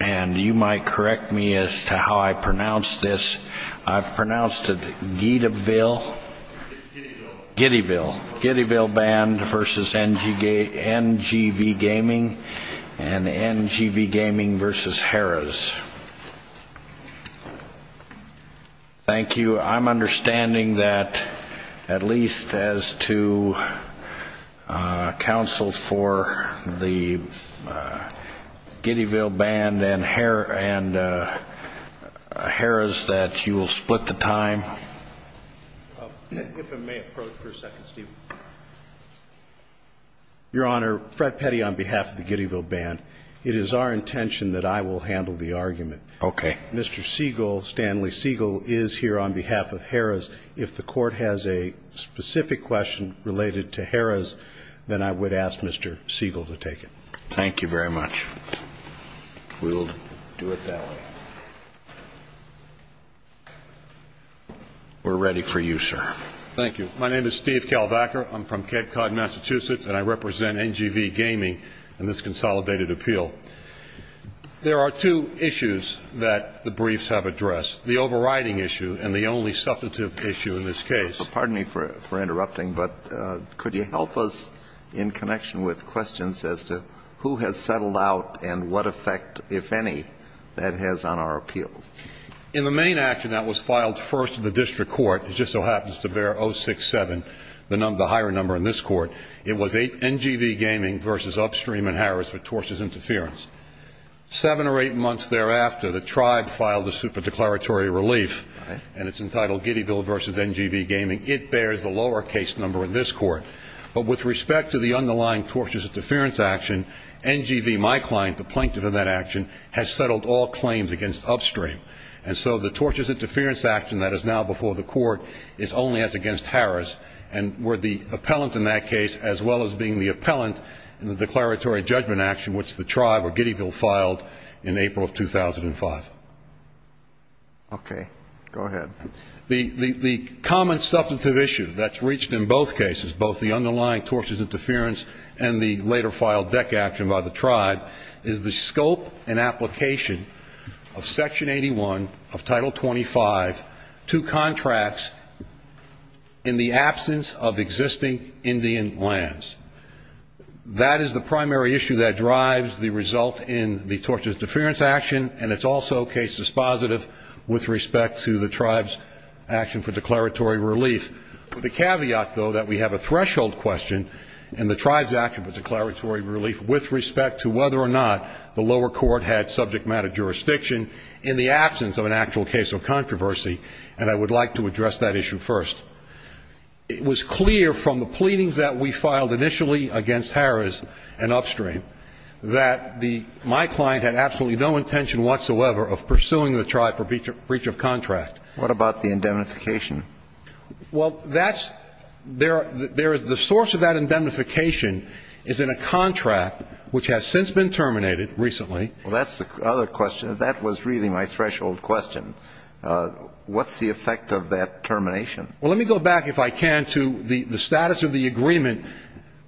and you might correct me as to how I pronounce this I've pronounced it Gideville Giddeville Giddeville Band versus NGV Gaming and NGV Gaming versus Harrah's thank you I'm understanding that at least as to counsel for the Giddeville Band and Harrah's that you will split the time your honor Fred Petty on behalf of the Giddeville Band it is our intention that I will handle the argument okay mr. Siegel Stanley Siegel is here on behalf of Harrah's if the court has a specific question related to Harrah's then I would ask mr. Siegel to take it thank you very much we'll do it that way we're ready for you sir thank you my name is Steve Kalbacher I'm from Cape Cod Massachusetts and I represent NGV Gaming and this consolidated appeal there are two issues that the briefs have addressed the overriding issue and the only substantive issue in this case pardon me for interrupting but could you help us in connection with questions as to who has settled out and what effect if any that has on our appeals in the main action that was filed first in the district court it just so happens to bear oh six seven the number the higher number in this court it was eight NGV Gaming versus upstream and Harris for torches interference seven or eight months thereafter the tribe filed a declaratory relief and it's entitled Giddeville versus NGV Gaming it bears a lowercase number in this court but with respect to the underlying torches interference action NGV my client the plaintiff in that action has settled all claims against upstream and so the torches interference action that is now before the court is only as against Harris and were the appellant in that case as well as being the appellant in the declaratory judgment action which the okay go ahead the the common substantive issue that's reached in both cases both the underlying torches interference and the later file deck action by the tribe is the scope and application of section 81 of title 25 to contracts in the absence of existing Indian lands that is the primary issue that drives the result in the torches interference action and it's also case dispositive with respect to the tribe's action for declaratory relief the caveat though that we have a threshold question and the tribe's action for declaratory relief with respect to whether or not the lower court had subject matter jurisdiction in the absence of an actual case of controversy and I would like to address that issue first it was clear from the pleadings that we filed initially against Harris and upstream that the my client had absolutely no intention whatsoever of pursuing the tribe for breach of contract what about the indemnification well that's there there is the source of that indemnification is in a contract which has since been terminated recently well that's the other question that was really my threshold question what's the effect of that termination well let me go back if I can to the the status of the agreement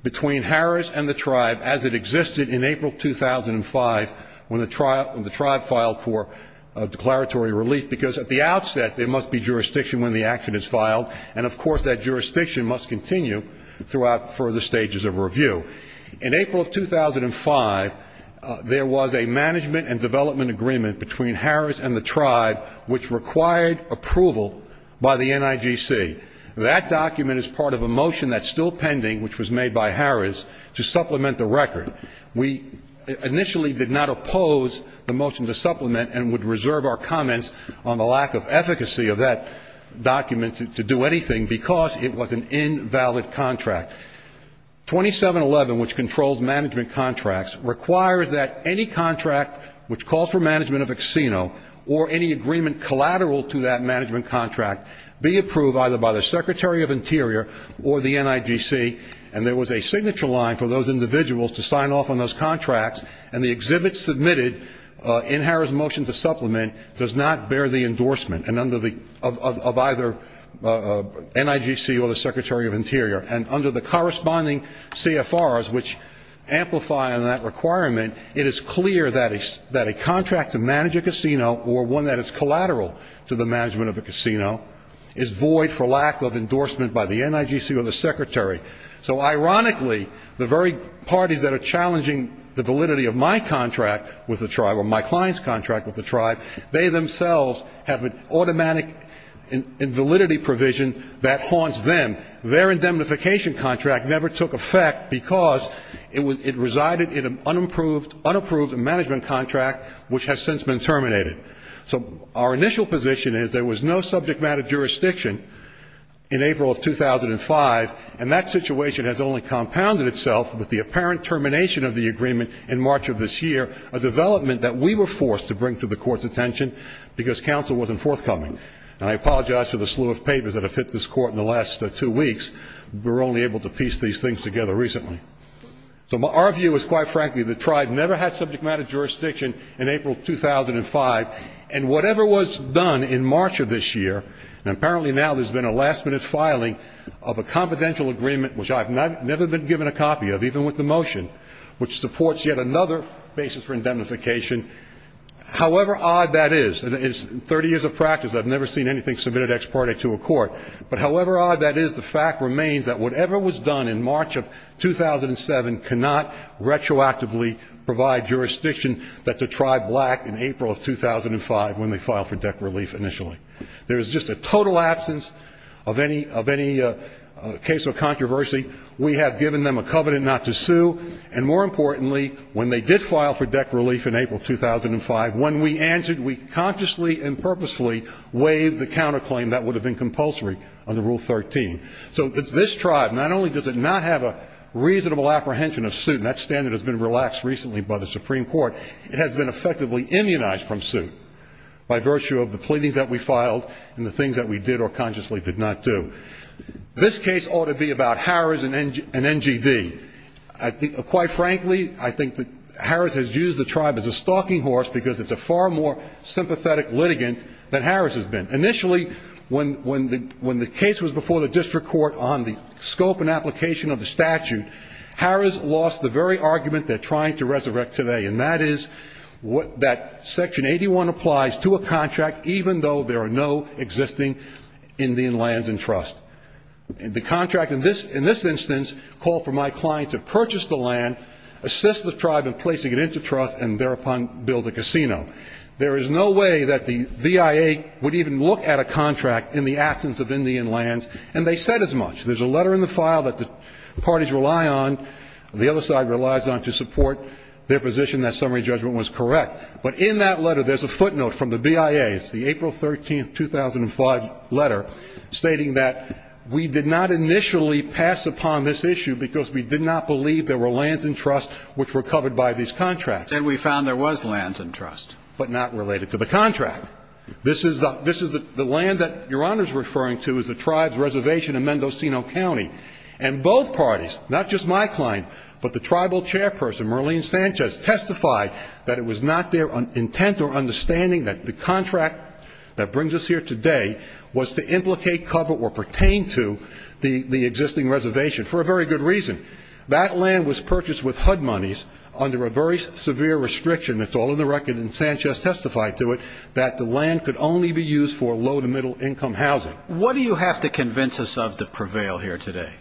between Harris and the tribe as it existed in April 2005 when the trial when the tribe filed for a declaratory relief because at the outset there must be jurisdiction when the action is filed and of course that jurisdiction must continue throughout further stages of review in April of 2005 there was a management and development agreement between Harris and the tribe which required approval by the NIGC that document is part of a motion that's pending which was made by Harris to supplement the record we initially did not oppose the motion to supplement and would reserve our comments on the lack of efficacy of that document to do anything because it was an invalid contract 2711 which controls management contracts requires that any contract which calls for management of a casino or any agreement collateral to that NIGC and there was a signature line for those individuals to sign off on those contracts and the exhibit submitted in Harris motion to supplement does not bear the endorsement and under the of either NIGC or the Secretary of Interior and under the corresponding CFRs which amplify on that requirement it is clear that is that a contract to manage a casino or one that is collateral to the management of a casino is void for lack of endorsement by the NIGC or the Secretary so ironically the very parties that are challenging the validity of my contract with the tribe or my client's contract with the tribe they themselves have an automatic invalidity provision that haunts them their indemnification contract never took effect because it was it resided in an unapproved unapproved management contract which has since been terminated so our initial position is there was no subject matter jurisdiction in April of 2005 and that situation has only compounded itself with the apparent termination of the agreement in March of this year a development that we were forced to bring to the court's attention because counsel wasn't forthcoming and I apologize for the slew of papers that have hit this court in the last two weeks we're only able to piece these things together recently so my our view is quite frankly the tribe never had subject matter jurisdiction in April 2005 and whatever was done in March of this year and apparently now there's been a last-minute filing of a confidential agreement which I've not never been given a copy of even with the motion which supports yet another basis for indemnification however odd that is and it's 30 years of practice I've never seen anything submitted ex parte to a court but however odd that is the fact remains that whatever was done in March of 2007 cannot retroactively provide jurisdiction that the tribe black in April of 2005 when they filed for debt relief initially there's just a total absence of any of any case or controversy we have given them a covenant not to sue and more importantly when they did file for debt relief in April 2005 when we answered we consciously and purposefully waived the counterclaim that would have been compulsory under rule 13 so it's this tribe not only does it not have a reasonable apprehension of suit that standard has been relaxed recently by the Supreme Court it has been effectively immunized from suit by virtue of the pleadings that we filed and the things that we did or consciously did not do this case ought to be about Harris and NGV I think quite frankly I think that Harris has used the tribe as a stalking horse because it's a far more sympathetic litigant that Harris has been initially when when the when the case was before the district court on the scope and application of the statute Harris lost the very argument they're trying to resurrect today and that is what that section 81 applies to a contract even though there are no existing Indian lands and trust and the contract in this in this instance called for my client to purchase the land assist the tribe in placing it into trust and thereupon build a casino there is no way that the VIA would even look at a contract in the absence of Indian lands and they said as much there's a letter in the file that the parties rely on the other side relies on to support their position that summary judgment was correct but in that letter there's a footnote from the VIA it's the April 13th 2005 letter stating that we did not initially pass upon this issue because we did not believe there were lands and trust which were covered by these contracts and we found there was lands and trust but not related to the contract this is the this is the land that your honor's referring to is the tribes reservation in Mendocino County and both parties not just my client but the tribal chairperson Merlene Sanchez testified that it was not their intent or understanding that the contract that brings us here today was to implicate cover or pertain to the the existing reservation for a very good reason that land was purchased with HUD monies under a very severe restriction that's all in the record and Sanchez testified to it that the land could only be used for low to middle income housing what do you have to convince us of the prevail here today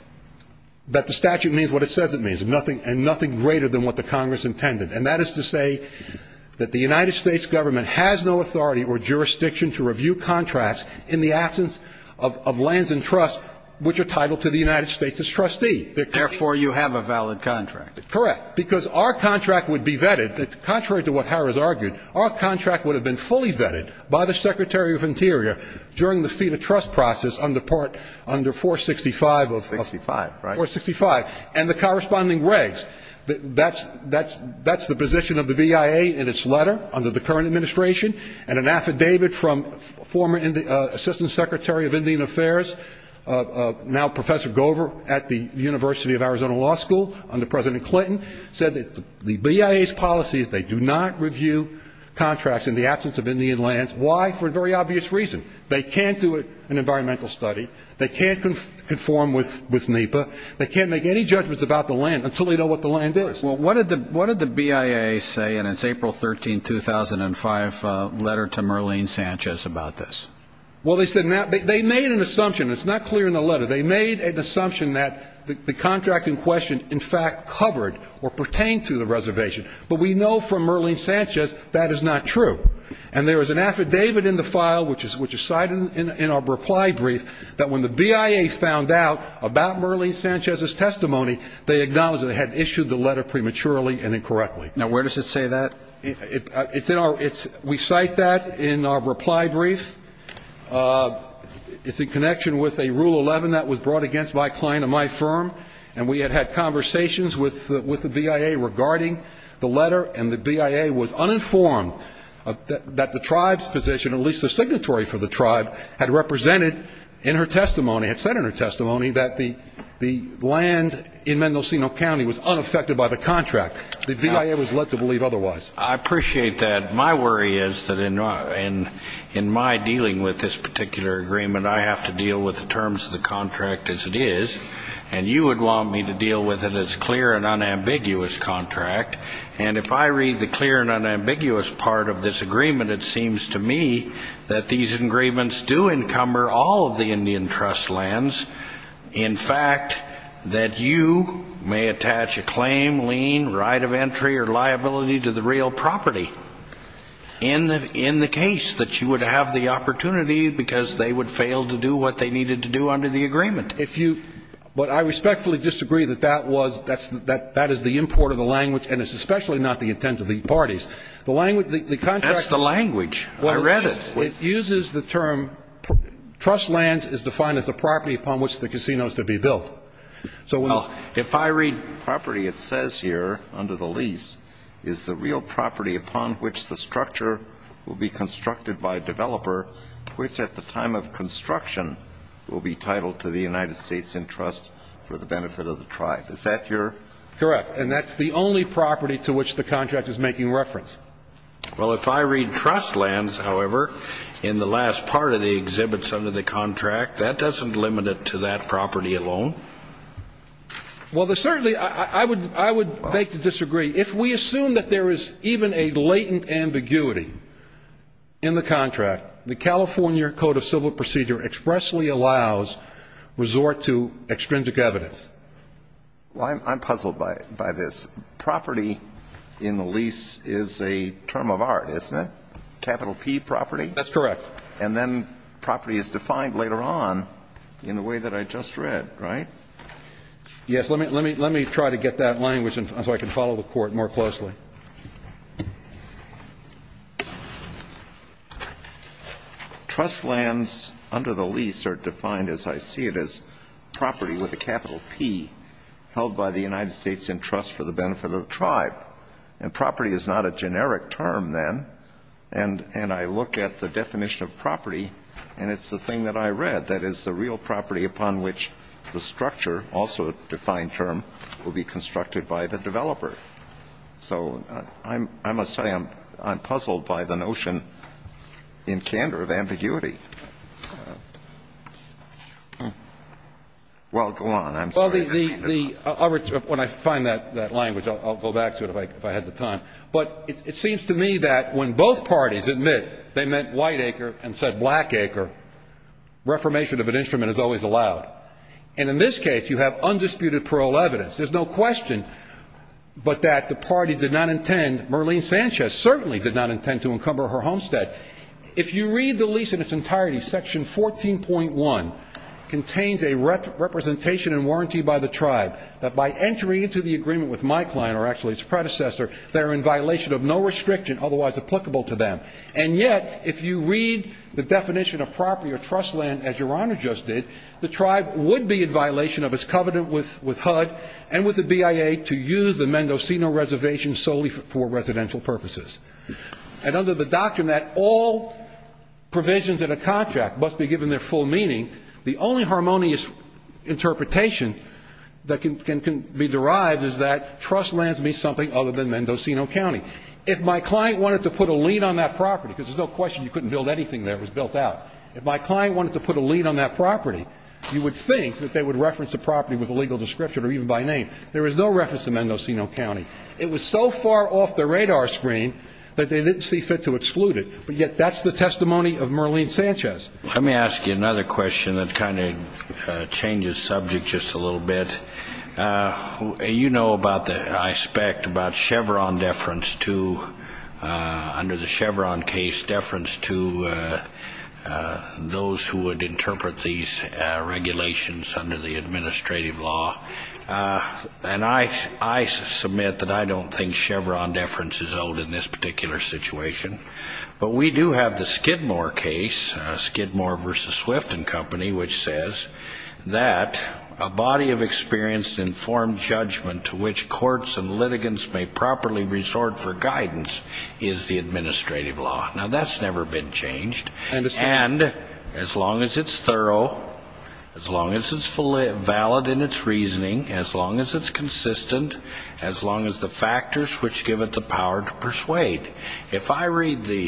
that the statute means what it says it means nothing and nothing greater than what the Congress intended and that is to say that the United States government has no authority or jurisdiction to review contracts in the absence of lands and trust which are titled to the United States as trustee therefore you have a valid contract correct because our contract would be vetted that contrary to what Harris argued our contract would have been fully vetted by the Secretary of Interior during the feet of trust process under part under 465 of 65 or 65 and the corresponding regs that's that's that's the position of the BIA in its letter under the current administration and an affidavit from former in the Assistant Secretary of Indian Affairs now Professor Gover at the University of Arizona Law School under President Clinton said that the BIA's policies they do not review contracts in the absence of Indian lands why for a very obvious reason they can't do it an environmental study they can't conform with with NEPA they can't make any judgments about the land until they know what the land is well what did the what did the BIA say and it's April 13 2005 letter to Merlene Sanchez about this well they said now they made an assumption it's not clear in the letter they made an assumption that the contract in question in fact covered or pertain to the reservation but we know from Merlene Sanchez that is not true and there is an affidavit in the file which is which is cited in our reply brief that when the BIA found out about Merlene Sanchez's testimony they acknowledged they had issued the letter prematurely and incorrectly now where does it say that it's in our it's we cite that in our reply brief it's in connection with a rule 11 that was brought against my client of my firm and we had had conversations with with the BIA regarding the letter and the BIA was uninformed that the tribes position at least the signatory for the tribe had represented in her testimony had said in her testimony that the the land in Mendocino County was unaffected by the contract the BIA was led to believe otherwise I appreciate that my worry is that in and in my dealing with this particular agreement I have to deal with the terms of the contract as it is and you would want me to deal with it as a clear and unambiguous contract and if I read the clear and unambiguous part of this agreement it seems to me that these agreements do encumber all of the Indian trust lands in fact that you may attach a claim lien right of entry or liability to the real property in in the case that you would have the opportunity because they would fail to do what they needed to do under the agreement if you but I that is the import of the language and it's especially not the intent of the parties the language the contract the language well read it it uses the term trust lands is defined as a property upon which the casinos to be built so well if I read property it says here under the lease is the real property upon which the structure will be constructed by developer which at the time of construction will be titled to the United States in trust for the correct and that's the only property to which the contract is making reference well if I read trust lands however in the last part of the exhibits under the contract that doesn't limit it to that property alone well there certainly I would I would like to disagree if we assume that there is even a latent ambiguity in the contract the California Code of Civil Procedure expressly resort to extrinsic evidence well I'm puzzled by it by this property in the lease is a term of art isn't it capital P property that's correct and then property is defined later on in the way that I just read right yes let me let me let me try to get that language and so I can follow the court more closely trust lands under the lease are defined as I see it as property with a capital P held by the United States in trust for the benefit of the tribe and property is not a generic term then and and I look at the definition of property and it's the thing that I read that is the real property upon which the structure also defined term will be constructed by the developer so I'm I must tell you I'm puzzled by the notion in candor of ambiguity well go on I'm sorry when I find that that language I'll go back to it if I had the time but it seems to me that when both parties admit they meant Whiteacre and said Blackacre reformation of an there's no question but that the party did not intend Merlene Sanchez certainly did not intend to encumber her homestead if you read the lease in its entirety section 14.1 contains a representation and warranty by the tribe that by entering into the agreement with my client or actually its predecessor they're in violation of no restriction otherwise applicable to them and yet if you read the definition of property or trust land as your honor just did the with HUD and with the BIA to use the Mendocino reservation solely for residential purposes and under the doctrine that all provisions in a contract must be given their full meaning the only harmonious interpretation that can be derived is that trust lands me something other than Mendocino County if my client wanted to put a lien on that property because there's no question you couldn't build anything there was built out if my client wanted to put a lien on that property you would think that they would reference the property with a legal description or even by name there is no reference to Mendocino County it was so far off the radar screen that they didn't see fit to exclude it but yet that's the testimony of Merlene Sanchez let me ask you another question that kind of changes subject just a little bit you know about the aspect about Chevron deference to under the Chevron case deference to those who would interpret these regulations under the administrative law and I I submit that I don't think Chevron deference is old in this particular situation but we do have the Skidmore case Skidmore versus Swift and company which says that a body of experienced informed judgment to which courts and litigants may properly resort for guidance is the administrative law now that's never been changed and as long as it's thorough as long as it's valid in its reasoning as long as it's consistent as long as the factors which give it the power to persuade if I read the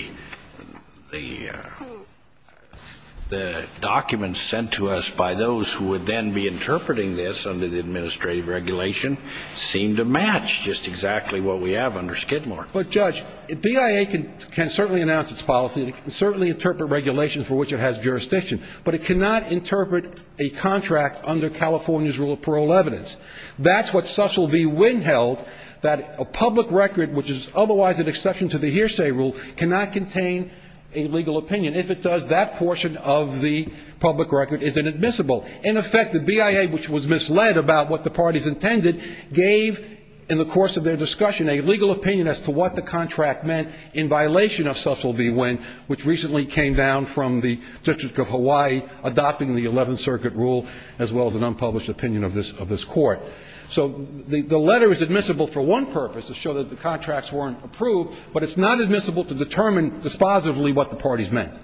the documents sent to us by those who would then be interpreting this under the administrative regulation seem to match just exactly what we have under Skidmore but judge BIA can can certainly announce its policy to certainly interpret regulations for which it has jurisdiction but it cannot interpret a contract under California's rule of parole evidence that's what Cecil V Wynn held that a public record which is otherwise an exception to the hearsay rule cannot contain a legal opinion if it does that portion of the public record isn't admissible in effect the BIA which was misled about what the party's intended gave in the course of their discussion a legal opinion as to what the contract meant in violation of Cecil V Wynn which recently came down from the District of Hawaii adopting the 11th Circuit rule as well as an unpublished opinion of this of this court so the the letter is admissible for one purpose to show that the contracts weren't approved but it's not admissible to determine dispositively what the parties meant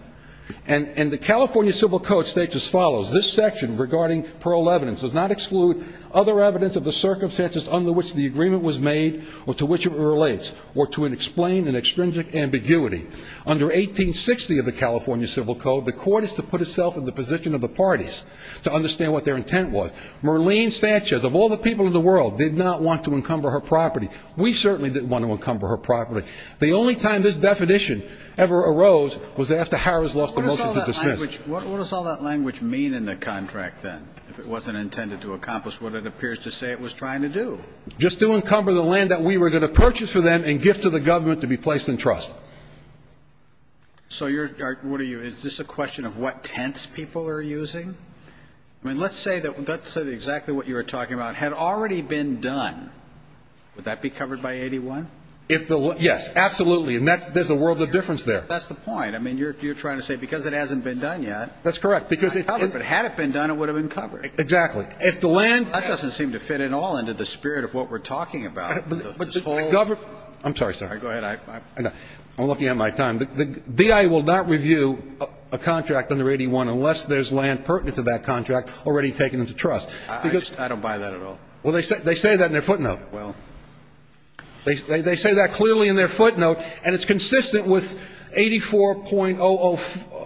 and and the California Civil Code states as follows this section regarding parole evidence does not exclude other evidence of the circumstances under which the agreement was made or to which it relates or to an explained and extrinsic ambiguity under 1860 of the California Civil Code the court is to put itself in the position of the parties to understand what their intent was Merlene Sanchez of all the people in the world did not want to encumber her property we certainly didn't want to encumber her property the only time this definition ever arose was after Harris lost the motion to dismiss. What does all that language mean in the contract then if it wasn't intended to accomplish what it appears to say it was trying to do? Just to give to the government to be placed in trust. So you're what are you is this a question of what tense people are using? I mean let's say that that's exactly what you were talking about had already been done would that be covered by 81? If the yes absolutely and that's there's a world of difference there. That's the point I mean you're trying to say because it hasn't been done yet. That's correct because if it hadn't been done it would have been covered. Exactly if the land. That doesn't seem to fit at all into the spirit of what we're talking about. But this whole government. I'm sorry sir. Go ahead. I'm looking at my time. The D.I. will not review a contract under 81 unless there's land pertinent to that contract already taken into trust. I don't buy that at all. Well they said they say that in their footnote. Well. They say that clearly in their footnote and it's consistent with 84.004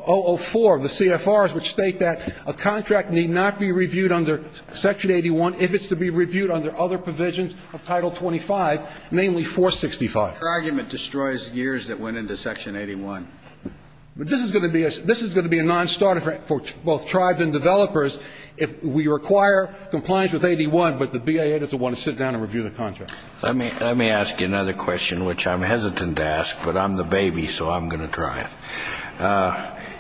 of the CFRs which state that a contract need not be reviewed under section 81 if it's to be reviewed under other provisions of title 25 namely 465. Your argument destroys years that went into section 81. But this is going to be a non-starter for both tribes and developers if we require compliance with 81 but the B.I.A. doesn't want to sit down and review the contract. Let me ask you another question which I'm hesitant to ask but I'm the baby so I'm going to try it.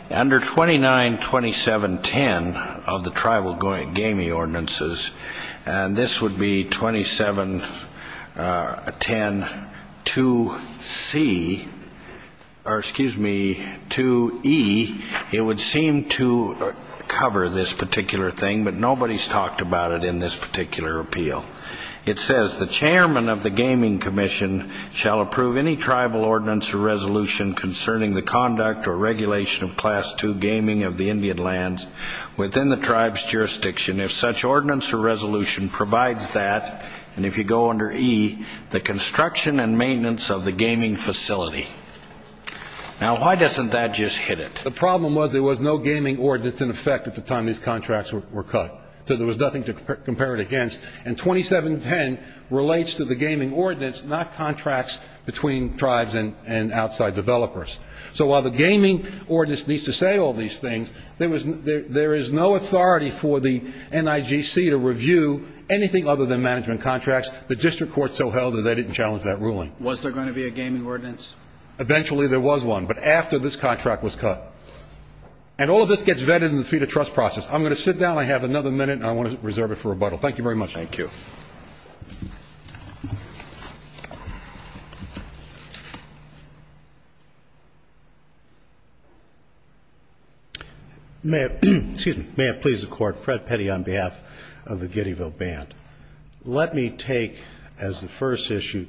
Under 2927.10 of the tribal gaming ordinances and this would be 27.10.2C or excuse me 2E. It would seem to cover this particular thing but nobody's talked about it in this particular appeal. It says the chairman of the gaming commission shall approve any tribal ordinance or resolution concerning the conduct or regulation of class 2 gaming of the Indian lands within the tribe's jurisdiction if such ordinance or resolution provides that and if you go under E the construction and maintenance of the gaming facility. Now why doesn't that just hit it? The problem was there was no gaming ordinance in effect at the time these contracts were cut so there was nothing to compare it against and 27.10 relates to the gaming ordinance not contracts between tribes and outside developers. So while the gaming ordinance needs to say all these things, there is no authority for the NIGC to review anything other than management contracts. The district court so held that they didn't challenge that ruling. Was there going to be a gaming ordinance? Eventually there was one but after this contract was cut. And all of this gets vetted in the fee-to-trust process. I'm going to sit down. I have another minute and I want to reserve it for rebuttal. Thank you very much. May I please the court? Fred Petty on behalf of the Giddeville Band. Let me take as the first issue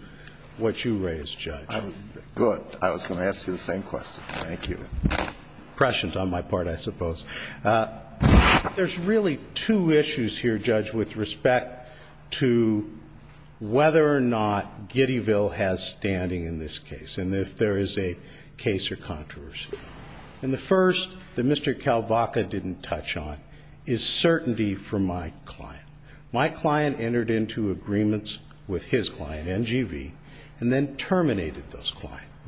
what you raised, Judge. Good. I was going to ask you the same question. Thank you. Impressions on my part I suppose. There's really two issues here, Judge, with respect to whether or not Giddeville has standing in this case and if there is a case or controversy. And the first that Mr. Kalvaca didn't touch on is certainty for my client. My client entered into agreements with his client, NGV, and then terminated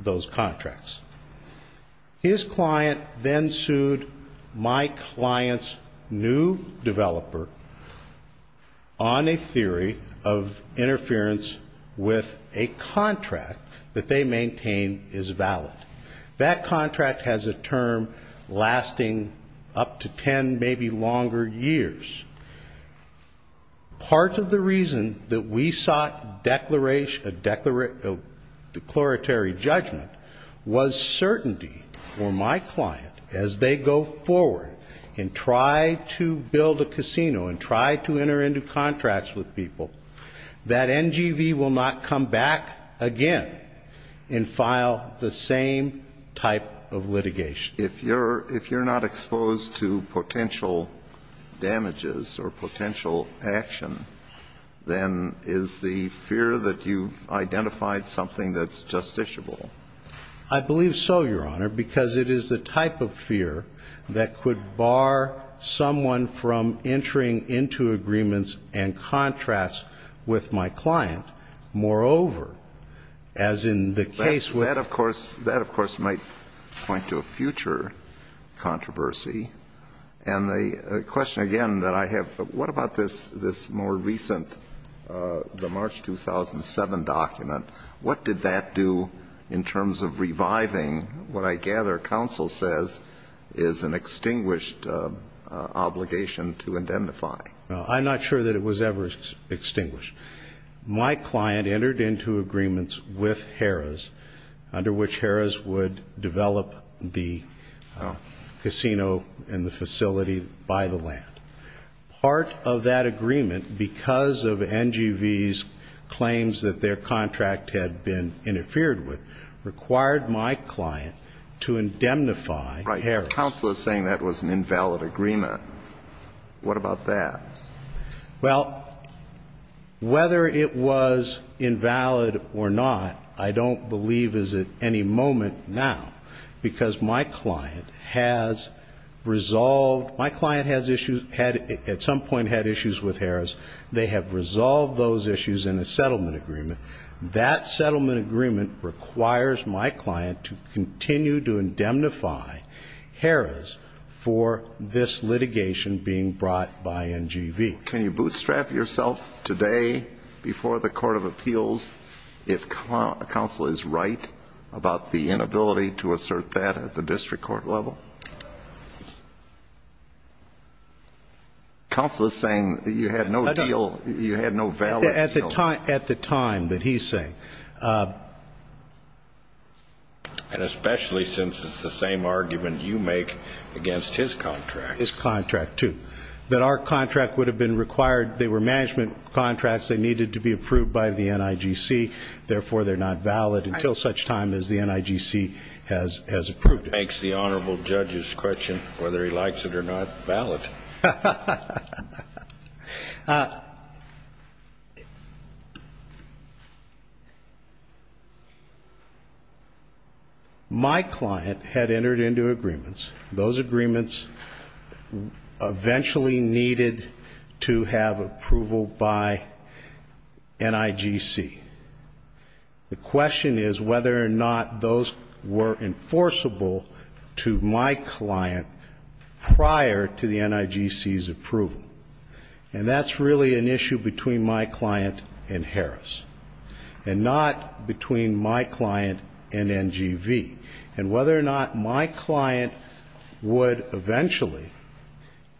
those contracts. His client then sued my client's new developer on a theory of interference with a contract that they maintain is valid. That contract has a term lasting up to 10 maybe longer years. Part of the reason that we sought a declaratory judgment was certainty for my client as they go forward and try to build a casino and try to enter into contracts with people that NGV will not come back again and file the same type of litigation. If you're not exposed to potential damages or potential action, then is the fear that you've identified something that's justiciable? I believe so, Your Honor, because it is the type of fear that could bar someone from entering into agreements and contracts with my client. Moreover, as in the case with That, of course, might point to a future controversy. And the question again that I have, what about this more recent, the March 2007 document? What did that do in terms of reviving what I gather counsel says is an extinguished obligation to identify? I'm not sure that it was ever extinguished. My client entered into agreements with Harrah's under which Harrah's would develop the casino and the facility by the land. Part of that agreement, because of NGV's claims that their contract had been interfered with, required my client to indemnify Harrah's. But counsel is saying that was an invalid agreement. What about that? Well, whether it was invalid or not, I don't believe is at any moment now, because my client has resolved, my client at some point had issues with Harrah's. They have resolved those issues in a settlement agreement. That settlement agreement requires my client to continue to indemnify Harrah's for this litigation being brought by NGV. Can you bootstrap yourself today before the Court of Appeals if counsel is right about the inability to assert that at the district court level? Counsel is saying you had no deal, you had no valid deal. At the time that he's saying. And especially since it's the same argument you make against his contract. His contract, too. That our contract would have been required, they were management contracts, they needed to be approved by the NIGC, therefore they're not valid until such time as the NIGC has approved it. That begs the honorable judge's question whether he likes it or not valid. My client had entered into agreements. Those agreements eventually needed to have approval by NIGC. The question is whether or not those were enforceable to my client prior to the NIGC's approval. And that's really an issue between my client and Harrah's. And not between my client and NGV. And whether or not my client would eventually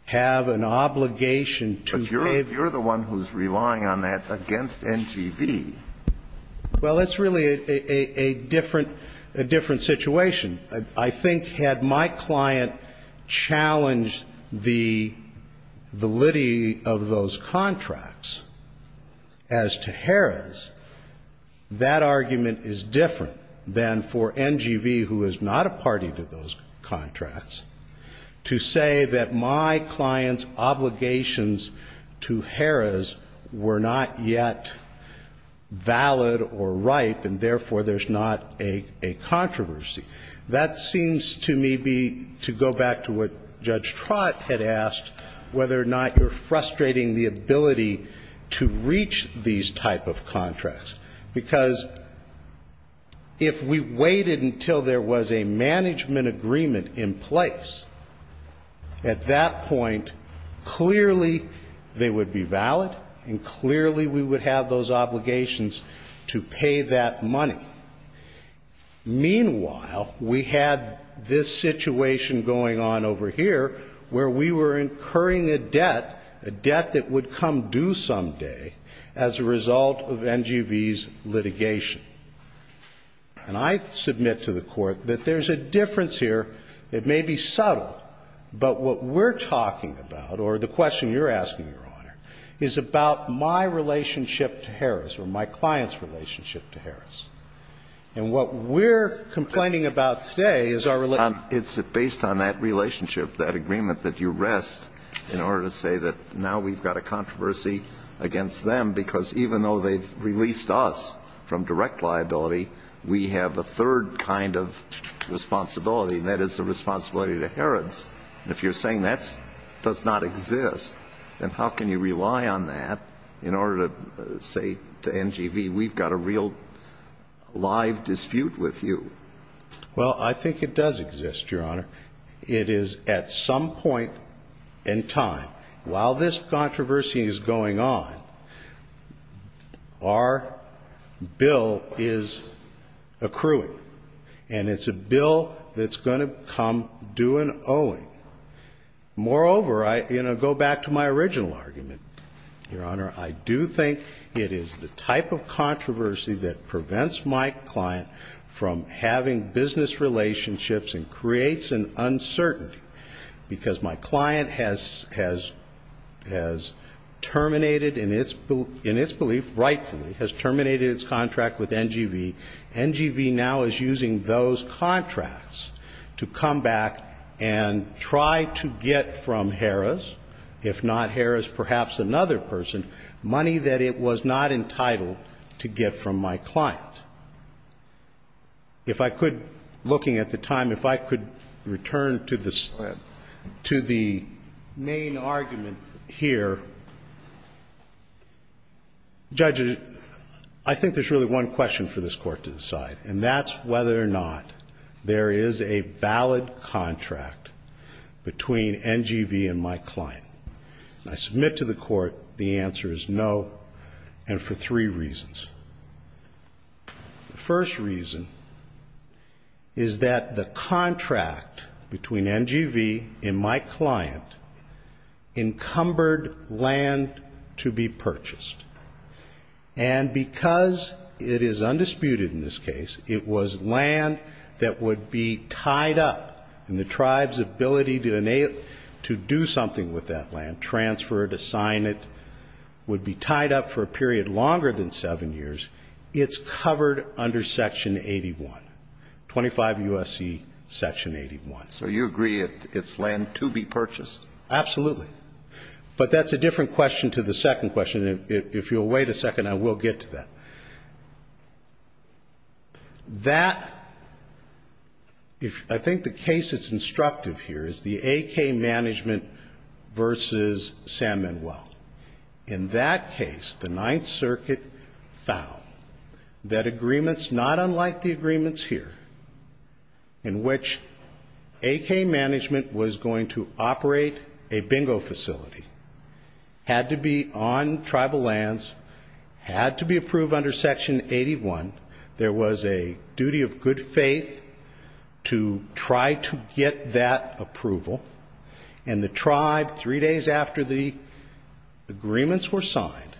have an obligation to give to Harrah's. But you're the one who's relying on that against NGV. Well, it's really a different situation. I think had my client challenged the validity of those contracts as to Harrah's, that argument is different than for NGV, who is not a party to those contracts, to say that my client's obligations to Harrah's were not yet valid or ripe, and therefore there's not a controversy. That seems to me to go back to what Judge Trott had asked, whether or not you're frustrating the ability to reach these type of contracts. Because if we waited until there was a management agreement in place, at that point, clearly they would be valid, and clearly we would have those obligations to pay that money. Meanwhile, we had this situation going on over here, where we were incurring a debt, a debt that would come due someday as a result of NGV's litigation. And I submit to the Court that there's a difference here. It may be subtle, but what we're talking about, or the question you're asking, Your Honor, is about my relationship to Harrah's or my client's relationship to Harrah's. And what we're complaining about today is our relationship. It's based on that relationship, that agreement that you rest, in order to say that now we've got a controversy against them, because even though they've released us from direct liability, we have a third kind of responsibility, and that is the responsibility to Harrah's. And if you're saying that does not exist, then how can you rely on that in order to say to NGV, we've got a real live dispute with you? Well, I think it does exist, Your Honor. It is at some point in time. While this controversy is going on, our bill is accruing, and it's a bill that's going to come due and owing. Moreover, I, you know, go back to my original argument, Your Honor, I do think it is the type of controversy that prevents my client from having business relationships and creates an uncertainty, because my client has terminated in its belief, rightfully, has terminated its contract with NGV. NGV now is using those contracts to come back and try to get from Harrah's, if not Harrah's, perhaps another person, money that it was not entitled to get from my client. If I could, looking at the time, if I could return to the main argument here. Judge, I think there's really one question for this Court to decide, and that's whether or not there is a valid contract between NGV and my client. I submit to the Court the answer is no, and for three reasons. The first reason is that the contract between NGV and my client encumbered land to be purchased. And because it is undisputed in this case, it was land that would be tied up, and the tribe's ability to do something with that land, transfer it, assign it, would be tied up for a period longer than seven years, it's covered under Section 81, 25 U.S.C. Section 81. So you agree it's land to be purchased? Absolutely. But that's a different question to the second question. If you'll wait a second, I will get to that. That, I think the case that's instructive here is the AK Management versus San Manuel. In that case, the Ninth Circuit found that agreements not unlike the agreements here, in which AK Management was going to operate a bingo facility, had to be on tribal lands, had to be approved under Section 81. There was a duty of good faith to try to get that approval. And the tribe, three days after the agreements were signed,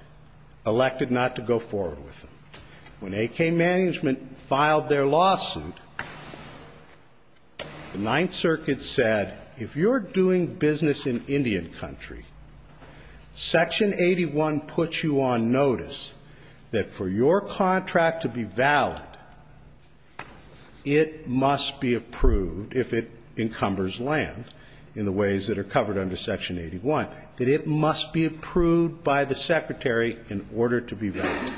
elected not to go forward with them. When AK Management filed their lawsuit, the Ninth Circuit said, if you're doing business in Indian country, Section 81 puts you on notice that for your contract to be valid, it must be approved, if it encumbers land in the ways that are covered under Section 81, that it must be approved by the Secretary in order to be valid.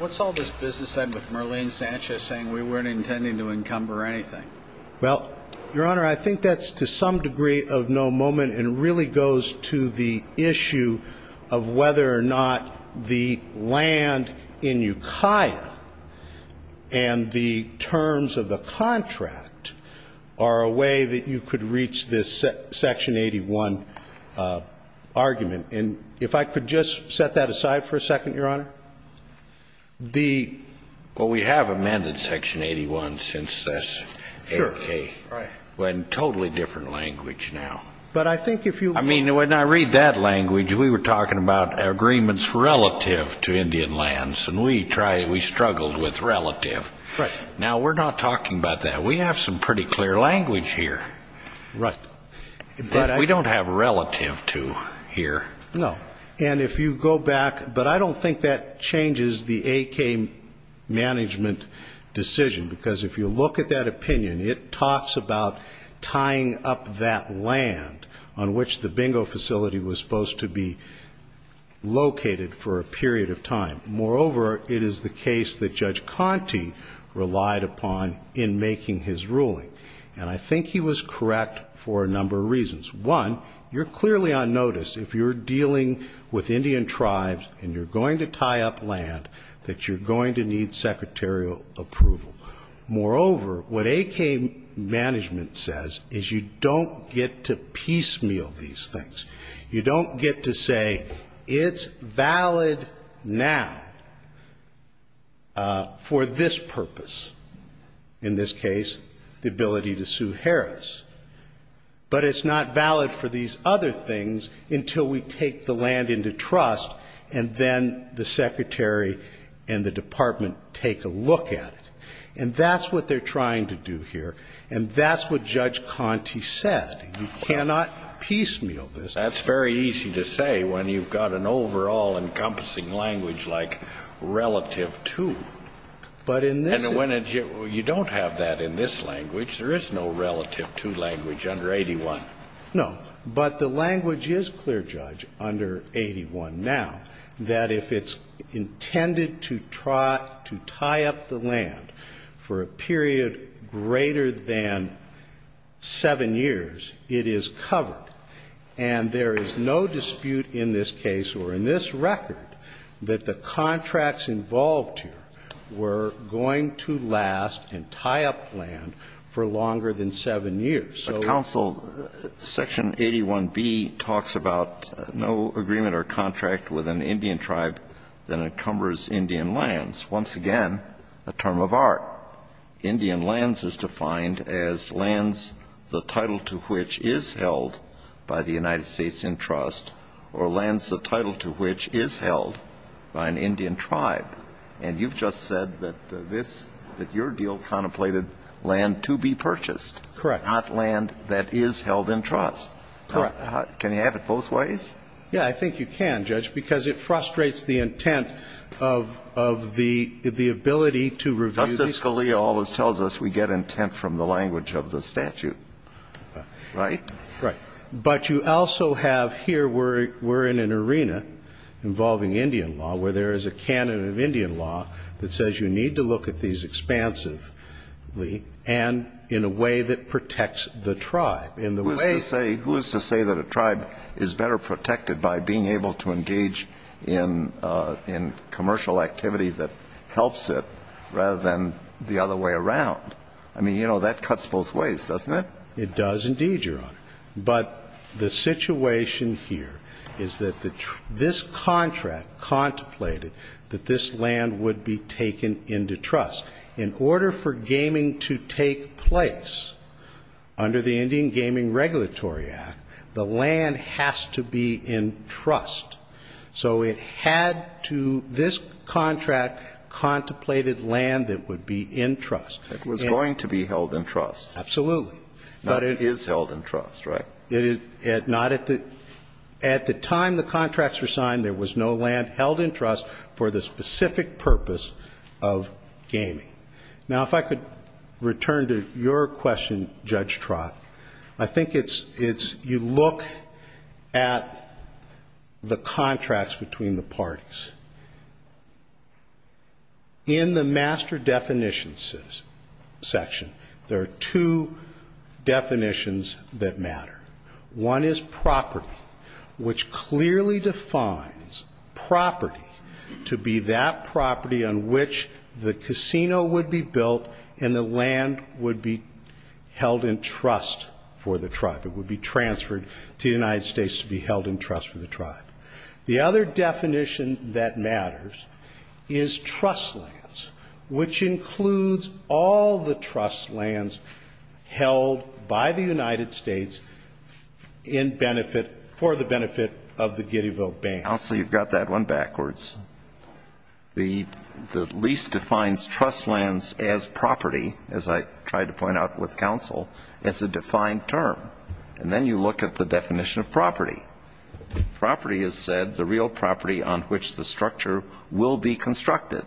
What's all this business then with Merlene Sanchez saying we weren't intending to encumber anything? Well, Your Honor, I think that's to some degree of no moment, and really goes to the issue of whether or not the land in Ukiah and the terms of the contract are a way that you could reach this Section 81 argument. And if I could just set that aside for a second, Your Honor, the ---- Well, we have amended Section 81 since this. Sure. In totally different language now. But I think if you ---- I mean, when I read that language, we were talking about agreements relative to Indian lands, and we struggled with relative. Right. Now, we're not talking about that. We have some pretty clear language here. Right. We don't have relative to here. No. And if you go back, but I don't think that changes the AK management decision, because if you look at that opinion, it talks about tying up that land on which the bingo facility was supposed to be located for a period of time. Moreover, it is the case that Judge Conte relied upon in making his ruling. And I think he was correct for a number of reasons. One, you're clearly on notice if you're dealing with Indian tribes and you're going to tie up land that you're going to need secretarial approval. Moreover, what AK management says is you don't get to piecemeal these things. You don't get to say it's valid now for this purpose. In this case, the ability to sue Harris. But it's not valid for these other things until we take the land into trust and then the secretary and the department take a look at it. And that's what they're trying to do here, and that's what Judge Conte said. You cannot piecemeal this. That's very easy to say when you've got an overall encompassing language like relative to. But in this case you don't have that in this language. There is no relative to language under 81. No. But the language is clear, Judge, under 81 now, that if it's intended to try to tie up the land for a period greater than 7 years, it is covered. And there is no dispute in this case or in this record that the contracts involved here were going to last and tie up land for longer than 7 years. So it's not valid. So counsel, Section 81b talks about no agreement or contract with an Indian tribe that encumbers Indian lands. Once again, a term of art. Indian lands is defined as lands the title to which is held by the United States in trust or lands the title to which is held by an Indian tribe. And you've just said that this, that your deal contemplated land to be purchased. Correct. Not land that is held in trust. Correct. Can you have it both ways? Yeah. I think you can, Judge, because it frustrates the intent of the ability to review The Siscalia always tells us we get intent from the language of the statute. Right? Right. But you also have here we're in an arena involving Indian law where there is a canon of Indian law that says you need to look at these expansively and in a way that protects the tribe. Who is to say that a tribe is better protected by being able to engage in commercial activity that helps it rather than the other way around? I mean, you know, that cuts both ways, doesn't it? It does indeed, Your Honor. But the situation here is that this contract contemplated that this land would be taken into trust. In order for gaming to take place under the Indian Gaming Regulatory Act, the land has to be in trust. So it had to this contract contemplated land that would be in trust. It was going to be held in trust. Absolutely. But it is held in trust, right? At the time the contracts were signed, there was no land held in trust for the specific purpose of gaming. Now, if I could return to your question, Judge Trott, I think it's you look at the contracts between the parties. In the master definitions section, there are two definitions that matter. One is property, which clearly defines property to be that property on which the casino would be built and the land would be held in trust for the tribe. It would be transferred to the United States to be held in trust for the tribe. The other definition that matters is trust lands, which includes all the trust lands held by the United States for the benefit of the giddy vote band. Counsel, you've got that one backwards. The lease defines trust lands as property, as I tried to point out with counsel, as a defined term. Property is said the real property on which the structure will be constructed.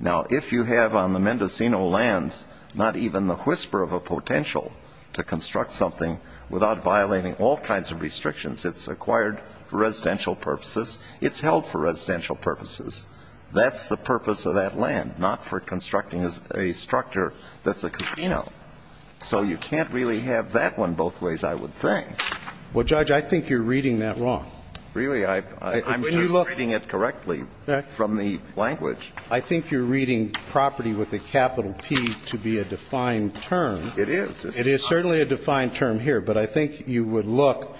Now, if you have on the Mendocino lands not even the whisper of a potential to construct something without violating all kinds of restrictions, it's acquired for residential purposes, it's held for residential purposes. That's the purpose of that land, not for constructing a structure that's a casino. So you can't really have that one both ways, I would think. Well, Judge, I think you're reading that wrong. Really? I'm just reading it correctly from the language. I think you're reading property with a capital P to be a defined term. It is. It is certainly a defined term here. But I think you would look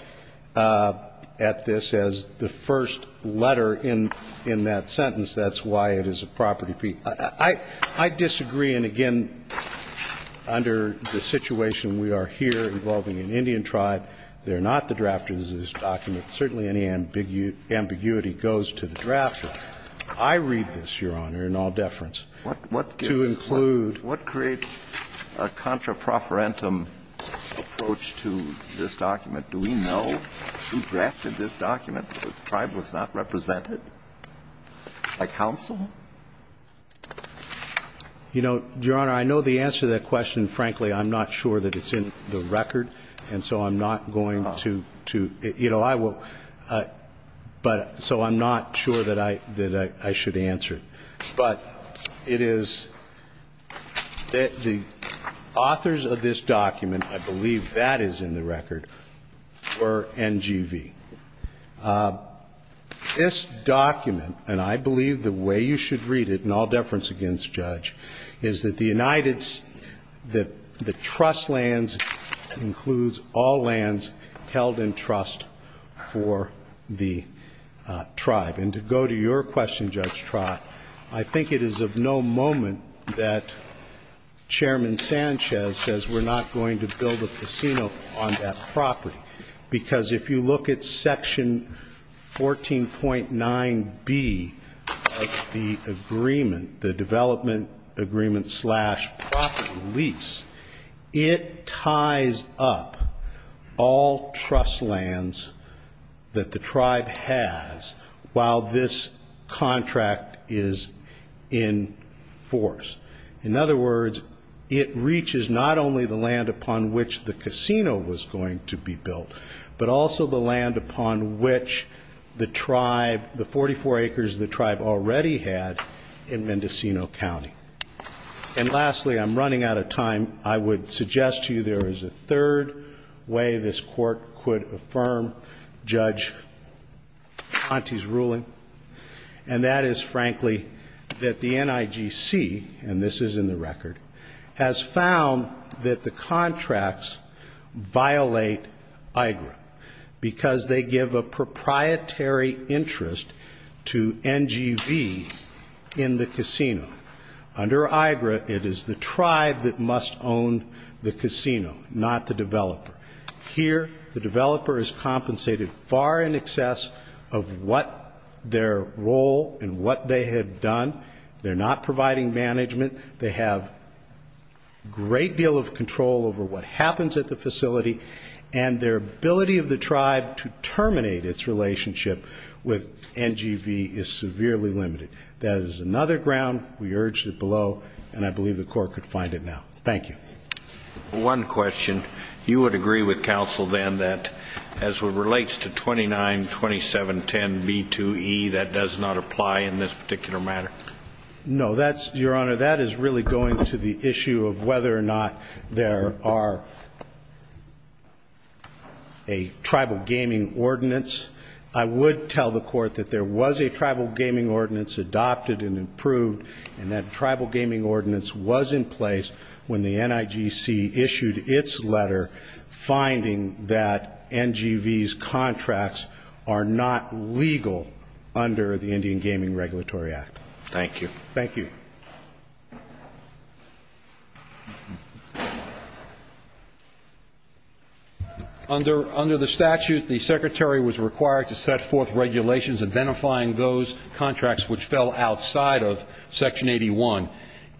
at this as the first letter in that sentence. That's why it is a property P. I disagree, and again, under the situation we are here involving an Indian tribe, they're not the drafters of this document. Certainly any ambiguity goes to the drafter. I read this, Your Honor, in all deference, to include. What creates a contra profferentum approach to this document? Do we know who drafted this document? The tribe was not represented by counsel? You know, Your Honor, I know the answer to that question, frankly, I'm not sure that it's in the record, and so I'm not going to, you know, I will, but so I'm not sure that I should answer it. But it is that the authors of this document, I believe that is in the record, were NGV. This document, and I believe the way you should read it, in all deference against Judge, is that the United States, that the trust lands includes all lands held in trust for the tribe. And to go to your question, Judge Trott, I think it is of no moment that Chairman Sanchez says we're not going to build a casino on that property, because if you look at section 14.9B of the agreement, the development agreement slash property lease, it ties up all trust lands that the tribe has while this contract is in force. In other words, it reaches not only the land upon which the casino was going to be built, but also the land upon which the tribe, the 44 acres the tribe already had in Mendocino County. And lastly, I'm running out of time, I would suggest to you there is a third way this court could affirm Judge Conte's ruling, and that is, frankly, that the NIGC, and this is in the record, has found that the contracts violate IGRA, because they give a proprietary interest to NGV in the casino. Under IGRA, it is the tribe that must own the casino, not the developer. Here, the developer is compensated far in excess of what their role and what they had done. They're not providing management. They have a great deal of control over what happens at the facility, and their ability of the tribe to terminate its relationship with NGV is severely limited. That is another ground. We urged it below, and I believe the court could find it now. Thank you. One question. You would agree with counsel, then, that as it relates to 292710B2E, that does not apply in this particular matter? No. Your Honor, that is really going to the issue of whether or not there are a tribal gaming ordinance. I would tell the court that there was a tribal gaming ordinance adopted and approved, and that tribal gaming ordinance was in place when the NIGC issued its letter, finding that NGV's contracts are not legal under the Indian Gaming Regulatory Act. Thank you. Thank you. Under the statute, the Secretary was required to set forth regulations identifying those contracts which fell outside of Section 81.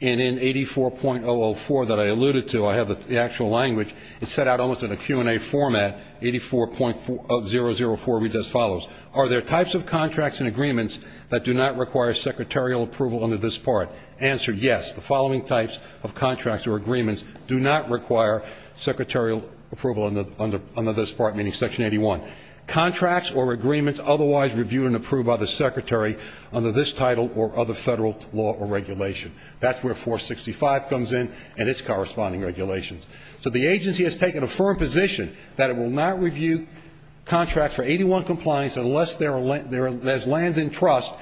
And in 84.004 that I alluded to, I have the actual language. It's set out almost in a Q&A format, 84.004 reads as follows. Are there types of contracts and agreements that do not require secretarial approval under this part? Answer, yes. The following types of contracts or agreements do not require secretarial approval under this part, meaning Section 81. Contracts or agreements otherwise reviewed and approved by the Secretary under this title or other federal law or regulation. That's where 465 comes in and its corresponding regulations. So the agency has taken a firm position that it will not review contracts for 81 compliance unless there's lands in trust,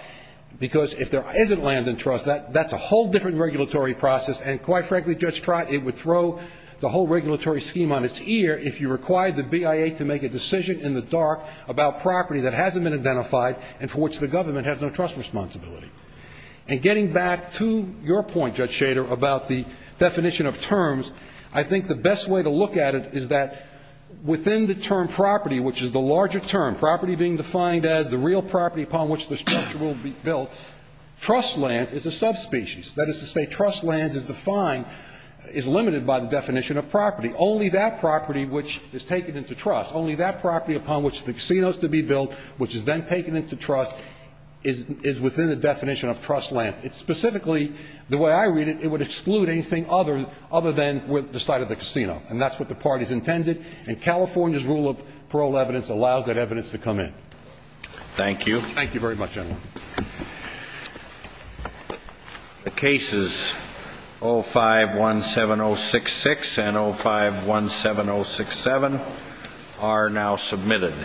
because if there isn't lands in trust, that's a whole different regulatory process, and quite frankly, Judge Trott, it would throw the whole regulatory scheme on its ear if you required the BIA to make a decision in the dark about property that hasn't been identified and for which the government has no trust responsibility. And getting back to your point, Judge Schader, about the definition of terms, I think the best way to look at it is that within the term property, which is the larger term, property being defined as the real property upon which the structure will be built, trust lands is a subspecies. That is to say trust lands is defined, is limited by the definition of property. Only that property which is taken into trust, only that property upon which the casino is to be built, which is then taken into trust, is within the definition of trust lands. It's specifically, the way I read it, it would exclude anything other than the site of the casino, and that's what the parties intended, and California's rule of parole evidence allows that evidence to come in. Thank you very much, gentlemen. The cases 05-17066 and 05-17067 are now submitted.